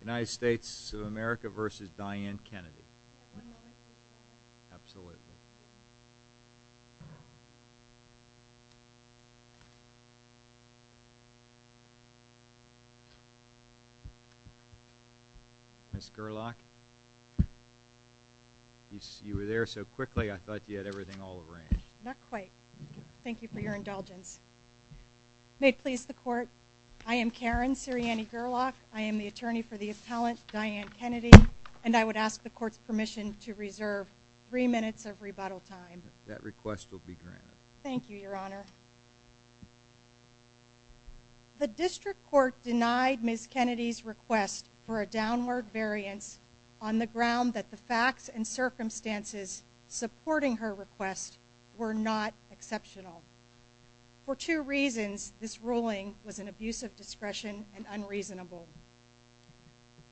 United States of America v. Dianne Kennedy Ms. Gerlach, you were there so quickly I thought you had everything all arranged. Not quite. Thank you for your indulgence. May it please the court, I am Karen Sirianni Gerlach. I am the attorney for the appellant Dianne Kennedy and I would ask the court's permission to reserve three minutes of rebuttal time. That request will be granted. Thank you your honor. The district court denied Ms. Kennedy's request for a downward variance on the ground that the facts and circumstances supporting her request were not exceptional. For two reasons this ruling was an abuse of discretion and unreasonable.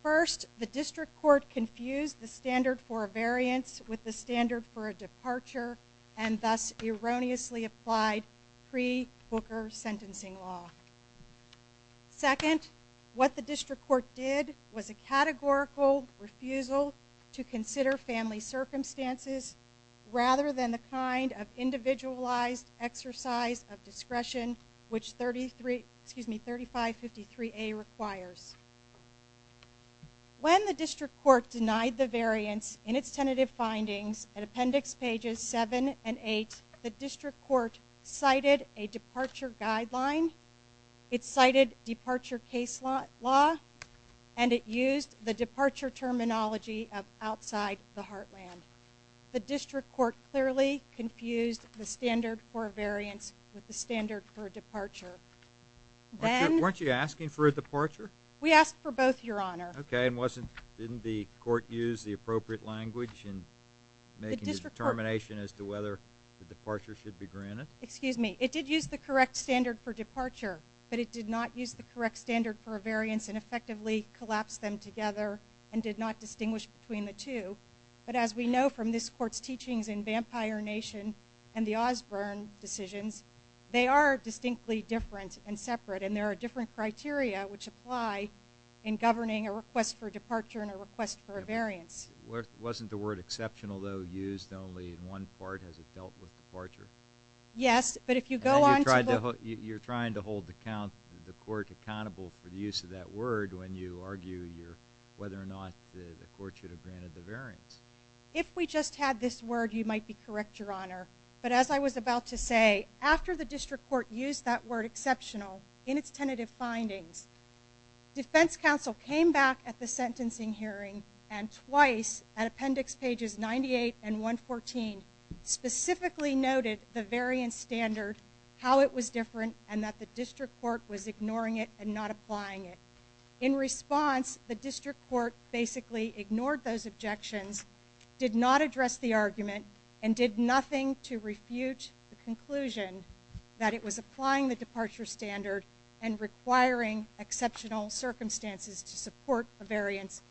First, the district court confused the standard for a variance with the standard for a departure and thus erroneously applied pre-Booker sentencing law. Second, what the district court did was a categorical refusal to consider family circumstances rather than the kind of individualized exercise of discretion which 3553A requires. When the district court denied the variance in its tentative findings at appendix pages 7 and 8, the district court cited a departure guideline, it cited departure case law, and it used the departure terminology of outside the heartland. The district court clearly confused the standard for a variance with the standard for a departure. Weren't you asking for a departure? We asked for both your honor. Okay and wasn't didn't the court use the appropriate language in making a determination as to whether the departure should be granted? Excuse me, it did use the correct standard for departure but it did not use the correct standard for a variance and effectively collapsed them together and did not distinguish between the two. But as we know from this court's teachings in Vampire Nation and the Osborne decisions, they are distinctly different and separate and there are different criteria which apply in governing a request for departure and a request for a variance. Wasn't the word exceptional though used only in one part as it dealt with departure? Yes, but if you go on... You're trying to hold the court accountable for the use of that word when you argue whether or not the word you might be correct, your honor. But as I was about to say, after the district court used that word exceptional in its tentative findings, defense counsel came back at the sentencing hearing and twice at appendix pages 98 and 114 specifically noted the variance standard, how it was different, and that the district court was ignoring it and not applying it. In response, the district court basically ignored those objections, did not address the argument, and did nothing to refute the conclusion that it was applying the departure standard and requiring exceptional circumstances to support a variance,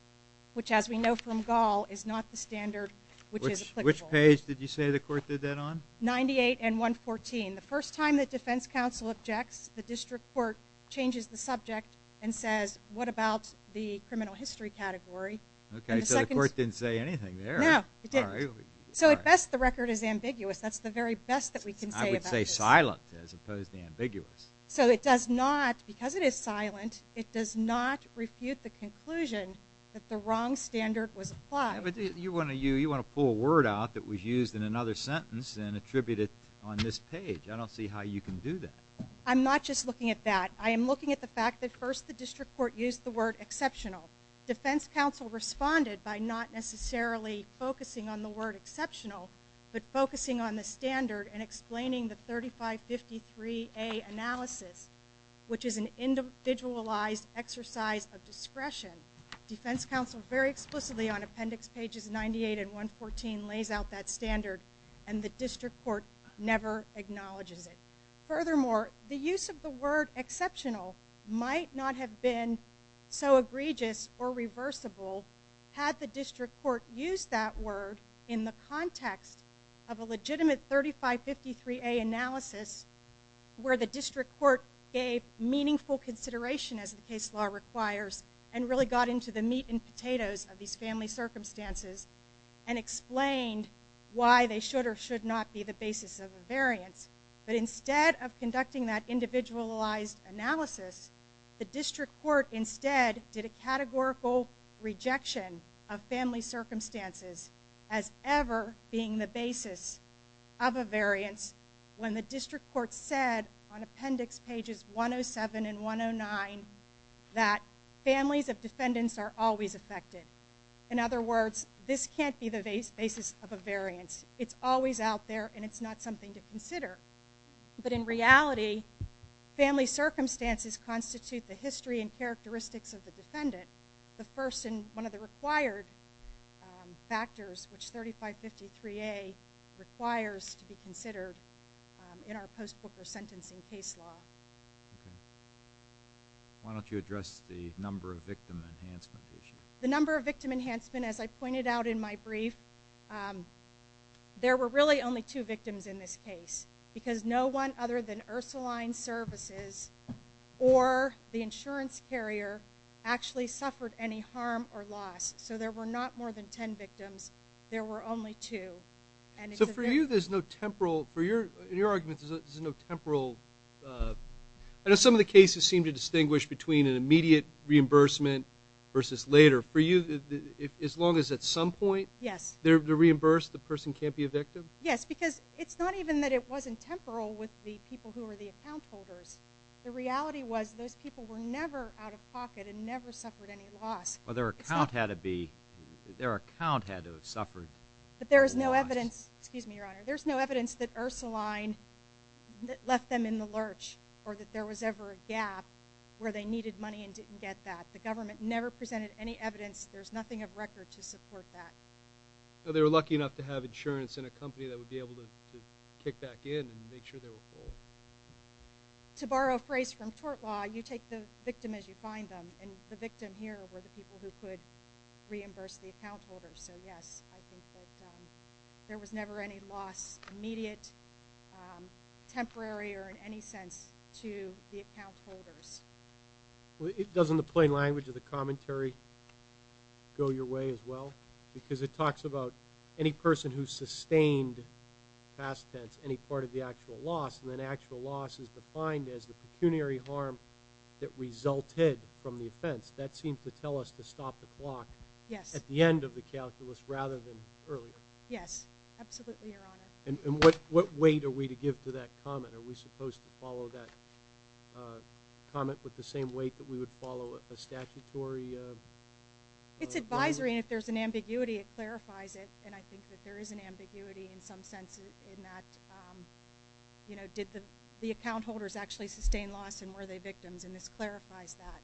which as we know from Gall is not the standard which is applicable. Which page did you say the court did that on? 98 and 114. The first time that defense counsel objects, the district court changes the subject and says what about the criminal history category. Okay, so the court didn't say anything there. No, it didn't. So at best the record is ambiguous. That's the very best that we can say about this. I would say silent as opposed to ambiguous. So it does not, because it is silent, it does not refute the conclusion that the wrong standard was applied. But you want to pull a word out that was used in another sentence and attribute it on this page. I don't see how you can do that. I'm not just looking at that. I am looking at the fact that first the district court used the word exceptional. Defense counsel responded by not necessarily focusing on the word exceptional, but focusing on the standard and explaining the 3553A analysis, which is an individualized exercise of discretion. Defense counsel very explicitly on appendix pages 98 and 114 lays out that standard and the district court never acknowledges it. Furthermore, the use of the word exceptional might not have been so egregious or reversible had the district court used that word in the context of a legitimate 3553A analysis where the district court gave meaningful consideration as the case law requires and really got into the meat and potatoes of these family circumstances and explained why they should or should not be the basis of a variance. Instead of reflecting that individualized analysis, the district court instead did a categorical rejection of family circumstances as ever being the basis of a variance when the district court said on appendix pages 107 and 109 that families of defendants are always affected. In other words, this can't be the basis of a variance. It's always out there and it's not something to be taken lightly. Family circumstances constitute the history and characteristics of the defendant, the first and one of the required factors which 3553A requires to be considered in our post-court sentencing case law. Why don't you address the number of victim enhancement issues? The number of victim enhancement, as I pointed out in my brief, there were really only two victims in this case because no one other than Ursuline Services or the insurance carrier actually suffered any harm or loss. So there were not more than 10 victims. There were only two. So for you there's no temporal, in your argument, there's no temporal I know some of the cases seem to distinguish between an immediate reimbursement versus later. For you, as long as at some point they're reimbursed, the person can't be a victim? Yes, because it's not even that it wasn't temporal with the people who were the account holders. The reality was those people were never out of pocket and never suffered any loss. But their account had to be, their account had to have suffered. But there is no evidence, excuse me your honor, there's no evidence that Ursuline left them in the lurch or that there was ever a gap where they needed money and didn't get that. The government never presented any evidence. There's nothing of record to support that. They were lucky enough to have insurance in a company that would be able to kick back in and make sure they were full. To borrow a phrase from tort law, you take the victim as you find them. And the victim here were the people who could reimburse the account holders. So yes, I think that there was never any loss, immediate, temporary, or in any sense to the account holders. Doesn't the plain language of the commentary go your way as well? Because it talks about any person who sustained, past tense, any part of the actual loss. And then actual loss is defined as the pecuniary harm that resulted from the offense. That seems to tell us to stop the clock at the end of the calculus rather than earlier. Yes, absolutely your honor. And what weight are we to give to that comment? Are we supposed to follow that comment with the same weight that we would follow a statutory? It's advisory, and if there's an ambiguity, it clarifies it. And I think that there is an ambiguity in some sense in that, you know, did the account holders actually sustain loss and were they victims? And this clarifies that.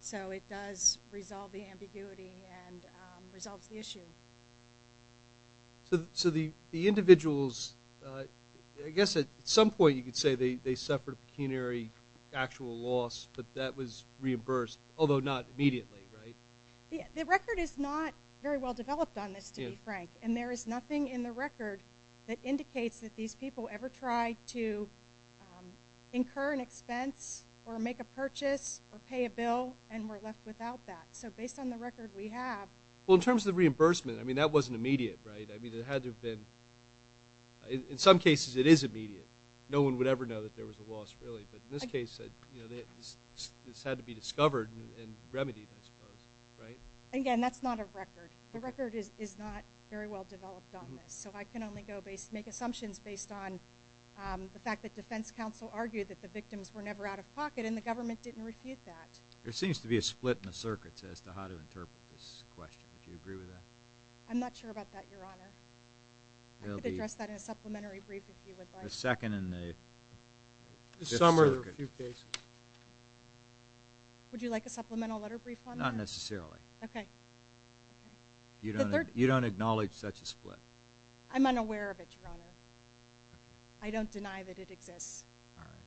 So it does resolve the ambiguity and resolves the issue. So the individuals, I guess at some point you could say they suffered a pecuniary actual loss, but that was reimbursed, although not immediately, right? The record is not very well developed on this, to be frank. And there is nothing in the record that indicates that these people ever tried to incur an expense or make a purchase or pay a bill and were left without that. So based on the record we have. Well, in terms of the reimbursement, I mean, that wasn't immediate, right? I mean, it had to have been. In some cases it is immediate. No one would ever know that there was a loss, really. But in this case it had to be discovered and remedied, I suppose, right? Again, that's not a record. The record is not very well developed on this. So I can only make assumptions based on the fact that defense counsel argued that the victims were never out of pocket and the government didn't refute that. There seems to be a split in the circuits as to how to interpret this question. Do you agree with that? I'm not sure about that, Your Honor. I could address that in a supplementary brief if you would like. The second and the fifth circuit. This summer there were a few cases. Would you like a supplemental letter brief on that? Not necessarily. Okay. You don't acknowledge such a split? I'm unaware of it, Your Honor. I don't deny that it exists. All right.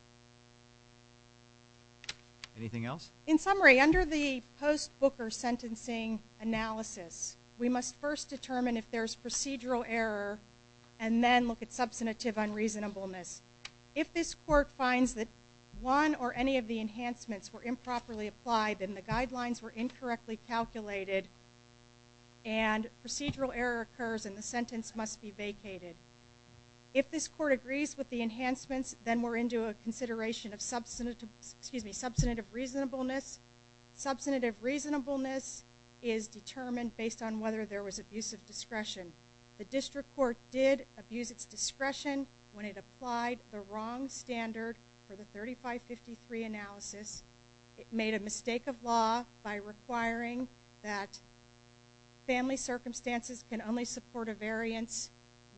Anything else? In summary, under the post-Booker sentencing analysis, we must first determine if there's procedural error and then look at substantive unreasonableness. If this court finds that one or any of the enhancements were improperly applied and the guidelines were incorrectly calculated and procedural error occurs and the sentence must be vacated, if this court agrees with the enhancements, then we're into a consideration of substantive reasonableness. Substantive reasonableness is determined based on whether there was abusive discretion. The district court did abuse its discretion when it applied the wrong standard for the 3553 analysis. It made a mistake of law by requiring that family circumstances can only support a variance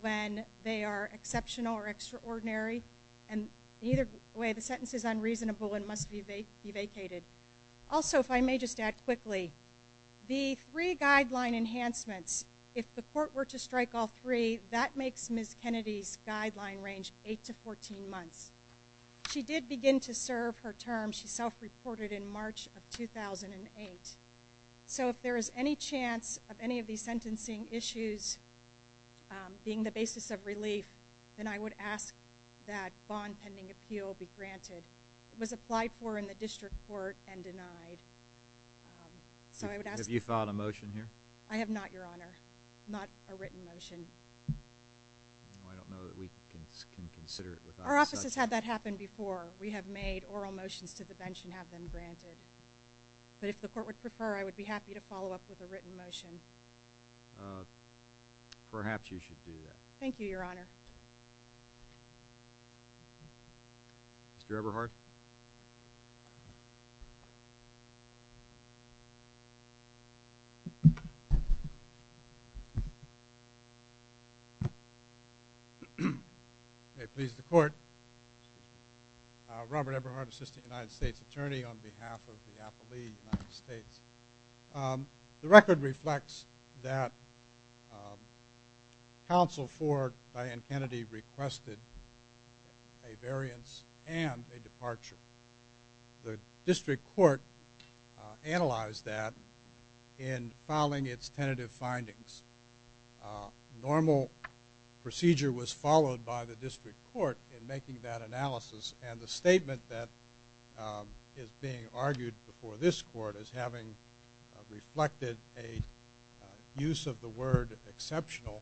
when they are exceptional or extraordinary, and either way the sentence is unreasonable and must be vacated. Also, if I may just add quickly, the three guideline enhancements, if the court were to strike all three, that makes Ms. Kennedy's guideline range 8 to 14 months. She did begin to serve her term, she self-reported, in March of 2008. So if there is any chance of any of these sentencing issues being the basis of relief, then I would ask that bond pending appeal be granted. It was applied for in the district court and denied. Have you filed a motion here? I have not, Your Honor, not a written motion. I don't know that we can consider it without such. Our office has had that happen before. We have made oral motions to the bench and have them granted. But if the court would prefer, I would be happy to follow up with a written motion. Perhaps you should do that. Thank you, Your Honor. Mr. Eberhardt. May it please the court. Robert Eberhardt, Assistant United States Attorney on behalf of the Appellee United States. The record reflects that counsel for Diane Kennedy requested a variance and a departure. The district court analyzed that in filing its tentative findings. Normal procedure was followed by the district court in making that analysis. And the statement that is being argued before this court as having reflected a use of the word exceptional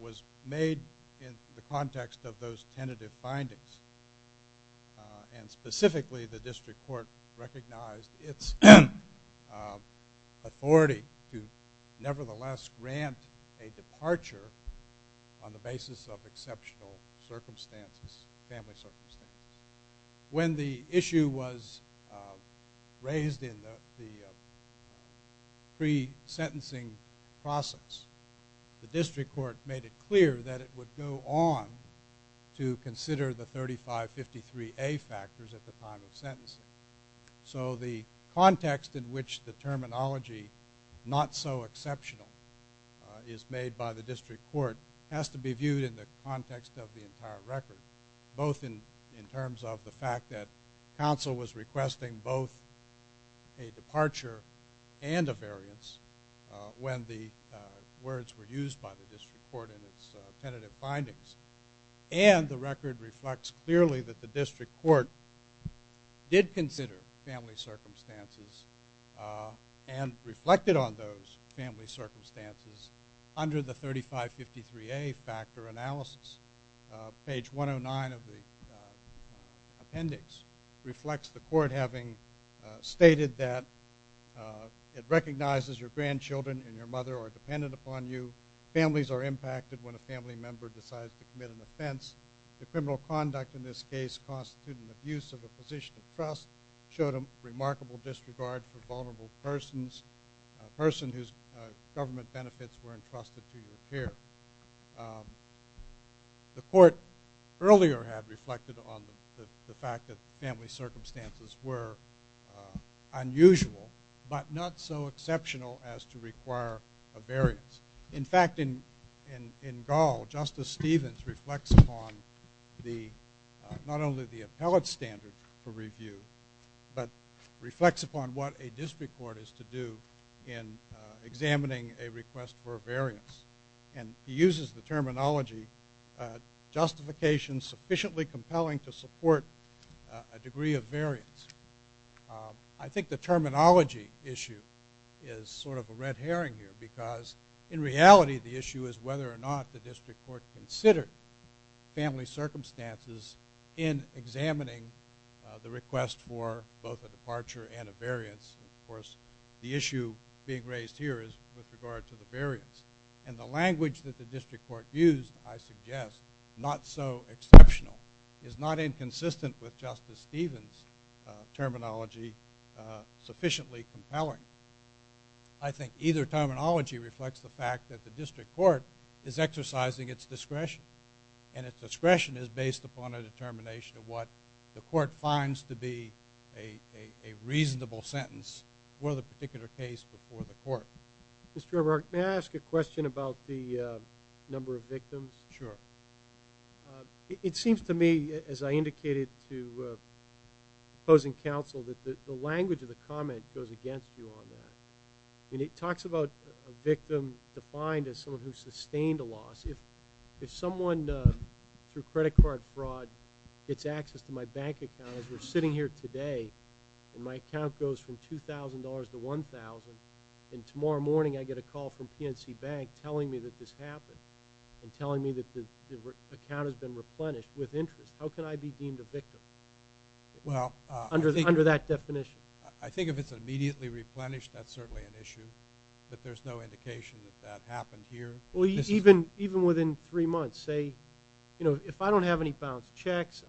was made in the context of those tentative findings. And specifically, the district court recognized its authority to nevertheless grant a departure on the basis of exceptional circumstances, family circumstances. When the issue was raised in the pre-sentencing process, the district court made it clear that it would go on to consider the 3553A factors at the time of sentencing. So the context in which the terminology not so exceptional is made by the district court has to be viewed in the context of the entire record, both in terms of the fact that counsel was requesting both a departure and a variance when the words were used by the district court in its tentative findings. And the record reflects clearly that the district court did consider family circumstances and reflected on those family circumstances under the 3553A factor analysis. Page 109 of the appendix reflects the court having stated that it recognizes your grandchildren and your mother are dependent upon you. Families are impacted when a family member decides to commit an offense. The criminal conduct in this case constituted an abuse of the position of trust, showed a remarkable disregard for vulnerable persons, a person whose government benefits were entrusted to your care. The court earlier had reflected on the fact that family circumstances were unusual, but not so exceptional as to require a variance. In fact, in Gall, Justice Stevens reflects upon not only the appellate standard for review, but reflects upon what a district court is to do in examining a request for a variance. And he uses the terminology justification sufficiently compelling to support a degree of variance. I think the terminology issue is sort of a red herring here because in reality the issue is whether or not the district court considered family circumstances in examining the request for both a departure and a variance. Of course, the issue being raised here is with regard to the variance. And the language that the district court used, I suggest, not so exceptional, is not inconsistent with Justice Stevens' terminology sufficiently compelling. I think either terminology reflects the fact that the district court is exercising its discretion. And its discretion is based upon a determination of what the court finds to be a reasonable sentence for the particular case before the court. Mr. Eberhardt, may I ask a question about the number of victims? Sure. It seems to me, as I indicated to opposing counsel, that the language of the comment goes against you on that. I mean, it talks about a victim defined as someone who sustained a loss. If someone through credit card fraud gets access to my bank account, as we're sitting here today and my account goes from $2,000 to $1,000, and tomorrow morning I get a call from PNC Bank telling me that this happened and telling me that the account has been replenished with interest, how can I be deemed a victim under that definition? I think if it's immediately replenished, that's certainly an issue. But there's no indication that that happened here. Even within three months, say, if I don't have any bounced checks,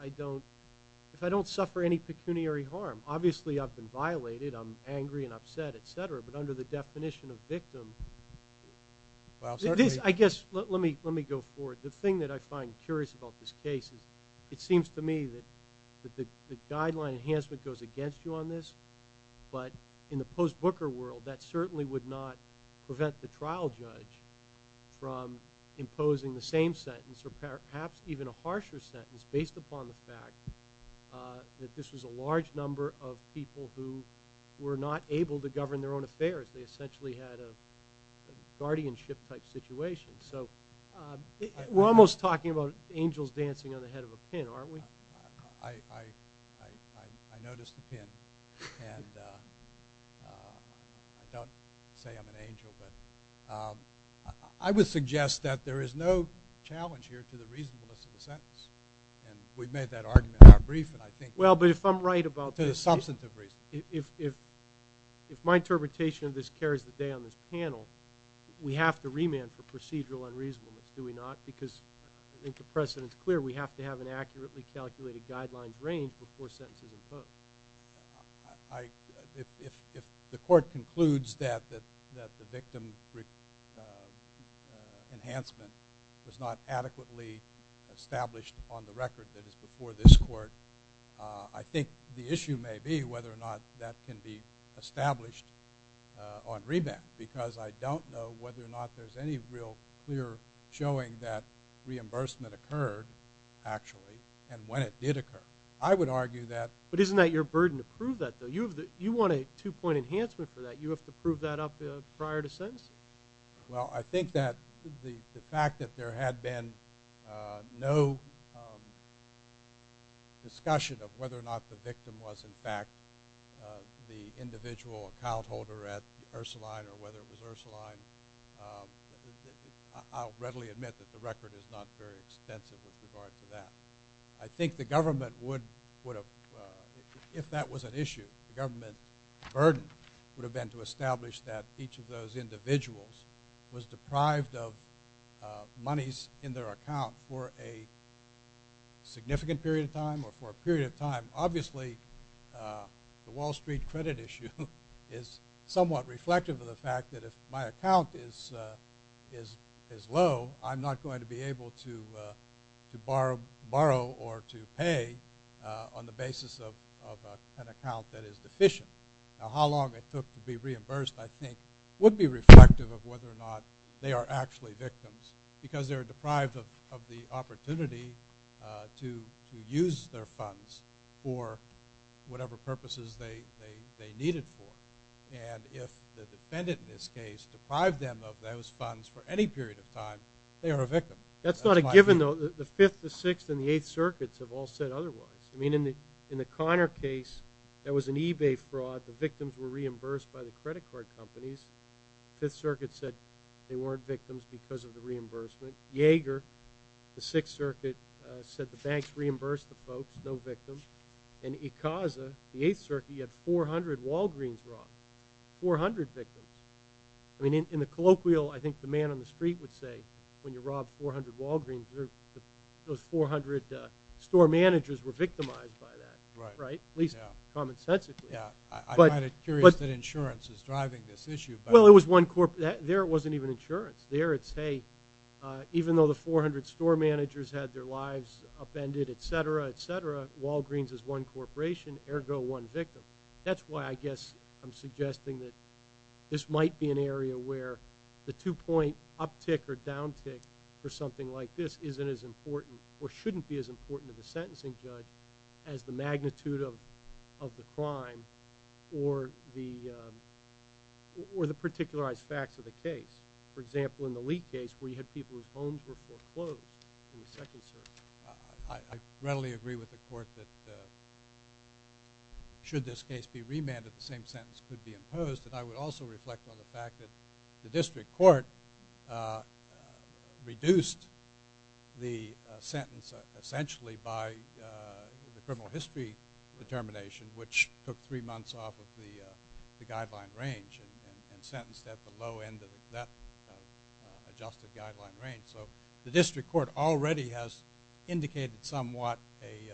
if I don't suffer any pecuniary harm, obviously I've been violated, I'm angry and upset, et cetera, but under the definition of victim, I guess let me go forward. The thing that I find curious about this case is it seems to me that the guideline enhancement goes against you on this, but in the post-Booker world that certainly would not prevent the trial judge from imposing the same sentence or perhaps even a harsher sentence based upon the fact that this was a large number of people who were not able to govern their own affairs. They essentially had a guardianship-type situation. So we're almost talking about angels dancing on the head of a pin, aren't we? I noticed the pin, and I don't say I'm an angel, but I would suggest that there is no challenge here to the reasonableness of the sentence, and we've made that argument in our brief, and I think – Well, but if I'm right about – To the substantive reason. If my interpretation of this carries the day on this panel, we have to remand for procedural unreasonableness, do we not? Because I think the precedent is clear. We have to have an accurately calculated guideline range before sentences impose. If the court concludes that the victim enhancement was not adequately established on the record that is before this court, I think the issue may be whether or not that can be established on remand, because I don't know whether or not there's any real clear showing that reimbursement occurred, actually, and when it did occur. I would argue that – But isn't that your burden to prove that, though? You want a two-point enhancement for that. You have to prove that up prior to sentencing. Well, I think that the fact that there had been no discussion of whether or not the victim was, in fact, the individual account holder at Ursuline or whether it was Ursuline, I'll readily admit that the record is not very extensive with regard to that. I think the government would have – if that was an issue, the government burden would have been to establish that each of those individuals was deprived of monies in their account for a significant period of time or for a period of time. Obviously, the Wall Street credit issue is somewhat reflective of the fact that if my account is low, I'm not going to be able to borrow or to pay on the basis of an account that is deficient. Now, how long it took to be reimbursed, I think, would be reflective of whether or not they are actually victims, because they're deprived of the opportunity to use their funds for whatever purposes they need it for. And if the defendant in this case deprived them of those funds for any period of time, they are a victim. That's not a given, though. The Fifth, the Sixth, and the Eighth Circuits have all said otherwise. I mean, in the Conner case, that was an eBay fraud. The victims were reimbursed by the credit card companies. The Fifth Circuit said they weren't victims because of the reimbursement. Yeager, the Sixth Circuit, said the banks reimbursed the folks, no victims. And Icaza, the Eighth Circuit, had 400 Walgreens robbed, 400 victims. I mean, in the colloquial, I think the man on the street would say when you rob 400 Walgreens, those 400 store managers were victimized by that, right? At least, commonsensically. I'm kind of curious that insurance is driving this issue. Well, there wasn't even insurance. There it's, hey, even though the 400 store managers had their lives upended, et cetera, et cetera, Walgreens is one corporation, ergo one victim. That's why I guess I'm suggesting that this might be an area where the two-point uptick or downtick for something like this isn't as important or shouldn't be as important to the sentencing judge as the magnitude of the crime or the particularized facts of the case. For example, in the Leake case, where you had people whose homes were foreclosed in the Second Circuit. I readily agree with the court that should this case be remanded, the same sentence could be imposed. And I would also reflect on the fact that the district court reduced the sentence, essentially, by the criminal history determination, which took three months off of the guideline range and sentenced at the low end of that adjusted guideline range. So the district court already has indicated somewhat a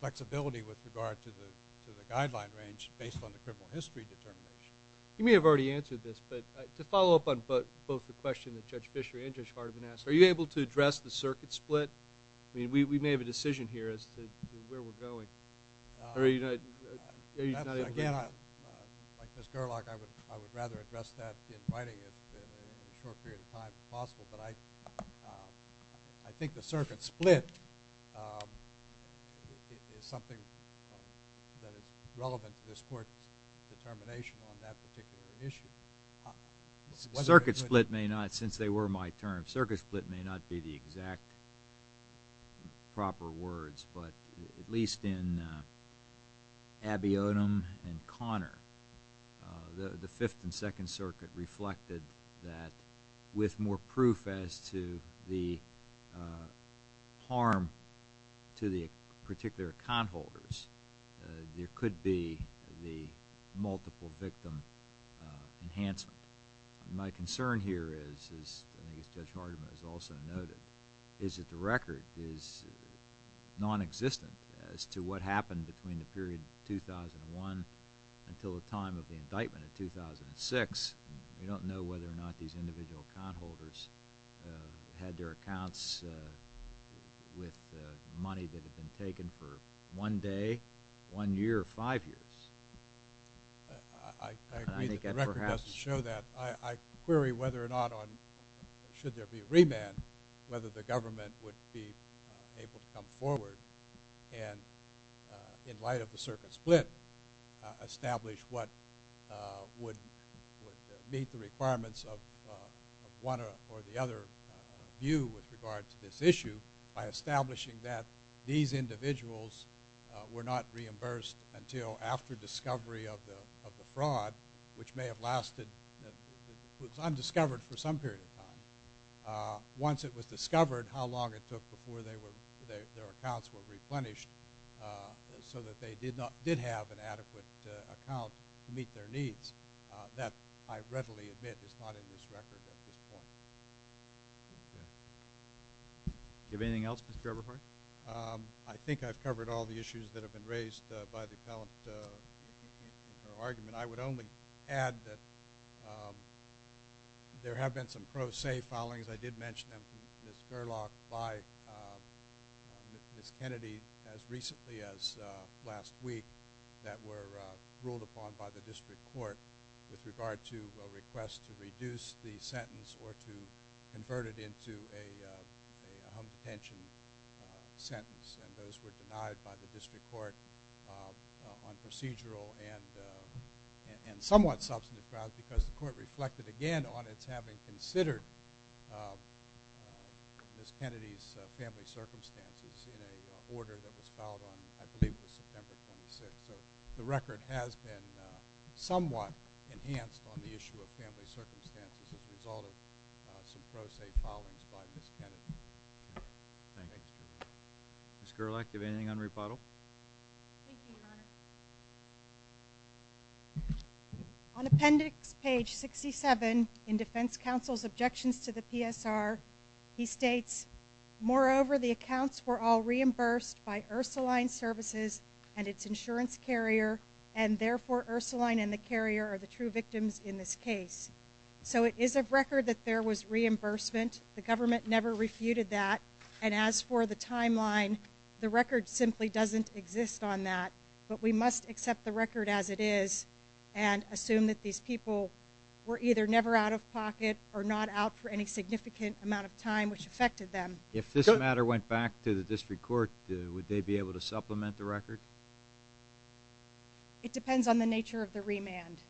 flexibility with regard to the guideline range based on the criminal history determination. You may have already answered this, but to follow up on both the question that Judge Fisher and Judge Hardeman asked, are you able to address the circuit split? I mean, we may have a decision here as to where we're going. Again, like Ms. Gerlach, I would rather address that in writing in a short period of time if possible, but I think the circuit split is something that is relevant to this court's determination on that particular issue. Circuit split may not, since they were my term, circuit split may not be the exact proper words, but at least in Abbey-Odom and Connor, the Fifth and Second Circuit reflected that with more proof as to the harm to the particular account holders, there could be the multiple victim enhancement. My concern here is, as Judge Hardeman has also noted, is that the record is nonexistent as to what happened between the period 2001 until the time of the indictment in 2006. We don't know whether or not these individual account holders had their accounts with money that had been taken for one day, one year, or five years. I agree that the record doesn't show that. I query whether or not, should there be a remand, whether the government would be able to come forward and, in light of the circuit split, establish what would meet the requirements of one or the other view with regard to this issue by establishing that these individuals were not reimbursed until after discovery of the fraud, which may have lasted, was undiscovered for some period of time. Once it was discovered, how long it took before their accounts were replenished so that they did have an adequate account to meet their needs. That, I readily admit, is not in this record at this point. Do you have anything else, Mr. Eberhardt? I think I've covered all the issues that have been raised by the appellant in her argument. I would only add that there have been some pro se filings. I did mention them to Ms. Burlock by Ms. Kennedy as recently as last week that were ruled upon by the district court with regard to a request to reduce the sentence or to convert it into a home detention sentence. Those were denied by the district court on procedural and somewhat substantive grounds because the court reflected again on its having considered Ms. Kennedy's family circumstances in an order that was filed on, I believe, September 26th. So the record has been somewhat enhanced on the issue of family circumstances as a result of some pro se filings by Ms. Kennedy. Thank you. Ms. Gerlach, do you have anything on rebuttal? Thank you, Your Honor. On appendix page 67 in defense counsel's objections to the PSR, he states, moreover, the accounts were all reimbursed by Ursuline Services and its insurance carrier and therefore Ursuline and the carrier are the true victims in this case. So it is a record that there was reimbursement. The government never refuted that. And as for the timeline, the record simply doesn't exist on that. But we must accept the record as it is and assume that these people were either never out of pocket or not out for any significant amount of time which affected them. If this matter went back to the district court, would they be able to supplement the record? It depends on the nature of the remand.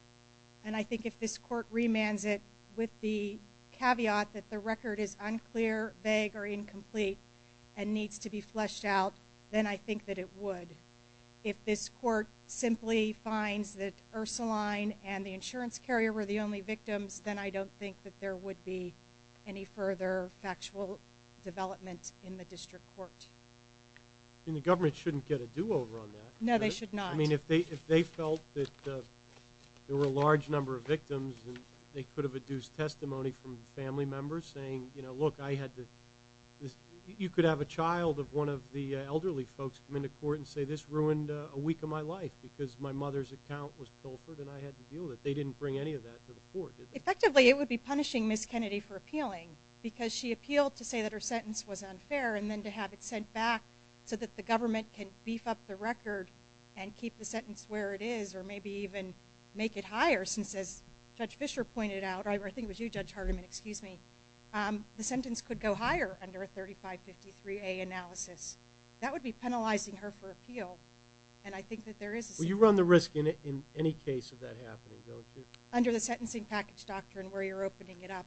And I think if this court remands it with the caveat that the record is unclear, vague, or incomplete and needs to be fleshed out, then I think that it would. If this court simply finds that Ursuline and the insurance carrier were the only victims, then I don't think that there would be any further factual development in the district court. I mean, the government shouldn't get a do-over on that. No, they should not. I mean, if they felt that there were a large number of victims and they could have adduced testimony from family members saying, you know, this ruined a week of my life because my mother's account was pilfered and I had to deal with it. They didn't bring any of that to the court, did they? Effectively, it would be punishing Ms. Kennedy for appealing because she appealed to say that her sentence was unfair and then to have it sent back so that the government can beef up the record and keep the sentence where it is or maybe even make it higher since, as Judge Fischer pointed out, or I think it was you, Judge Hardiman, excuse me, the sentence could go higher under a 3553A analysis. That would be penalizing her for appeal, and I think that there is a... Well, you run the risk in any case of that happening, don't you? Under the sentencing package doctrine where you're opening it up,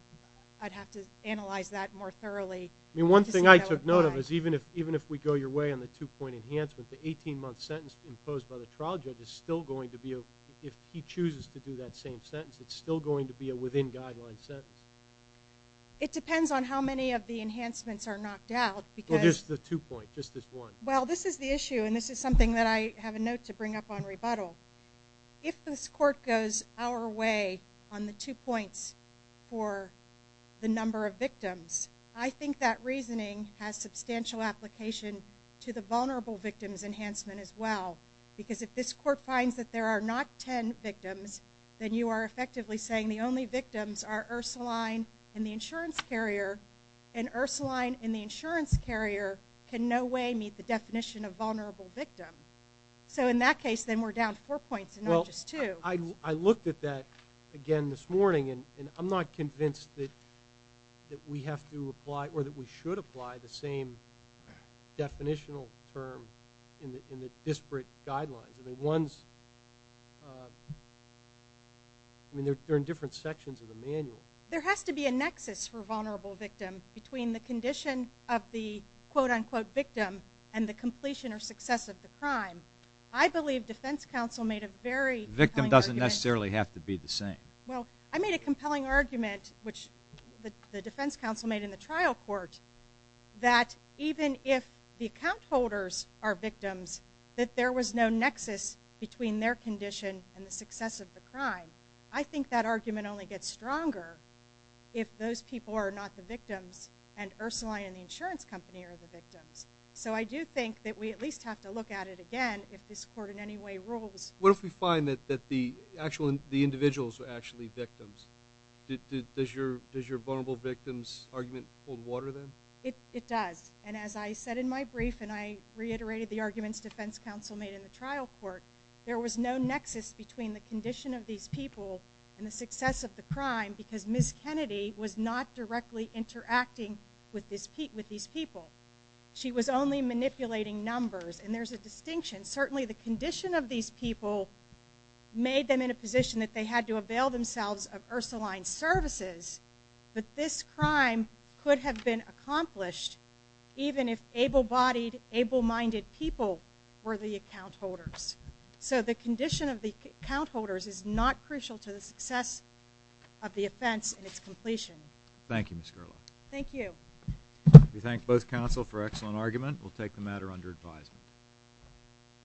I'd have to analyze that more thoroughly. I mean, one thing I took note of is even if we go your way on the two-point enhancement, the 18-month sentence imposed by the trial judge is still going to be, if he chooses to do that same sentence, it's still going to be a within-guideline sentence. It depends on how many of the enhancements are knocked out because... Just the two-point, just this one. Well, this is the issue, and this is something that I have a note to bring up on rebuttal. If this court goes our way on the two points for the number of victims, I think that reasoning has substantial application to the vulnerable victims enhancement as well because if this court finds that there are not 10 victims, then you are effectively saying the only victims are Ursuline and the insurance carrier, and Ursuline and the insurance carrier can no way meet the definition of vulnerable victim. So in that case, then we're down to four points and not just two. Well, I looked at that again this morning, and I'm not convinced that we have to apply or that we should apply the same definitional term in the disparate guidelines. I mean, they're in different sections of the manual. There has to be a nexus for vulnerable victim between the condition of the quote-unquote victim and the completion or success of the crime. I believe defense counsel made a very compelling argument. Victim doesn't necessarily have to be the same. Well, I made a compelling argument, which the defense counsel made in the trial court, that even if the account holders are victims, that there was no nexus between their condition and the success of the crime. I think that argument only gets stronger if those people are not the victims and Ursuline and the insurance company are the victims. So I do think that we at least have to look at it again if this court in any way rules. What if we find that the individuals are actually victims? Does your vulnerable victims argument hold water then? It does, and as I said in my brief, and I reiterated the arguments defense counsel made in the trial court, there was no nexus between the condition of these people and the success of the crime because Ms. Kennedy was not directly interacting with these people. She was only manipulating numbers, and there's a distinction. Certainly the condition of these people made them in a position that they had to avail themselves of Ursuline's services, but this crime could have been accomplished even if able-bodied, able-minded people were the account holders. So the condition of the account holders is not crucial to the success of the offense and its completion. Thank you, Ms. Gerlach. Thank you. We thank both counsel for excellent argument. We'll take the matter under advisement.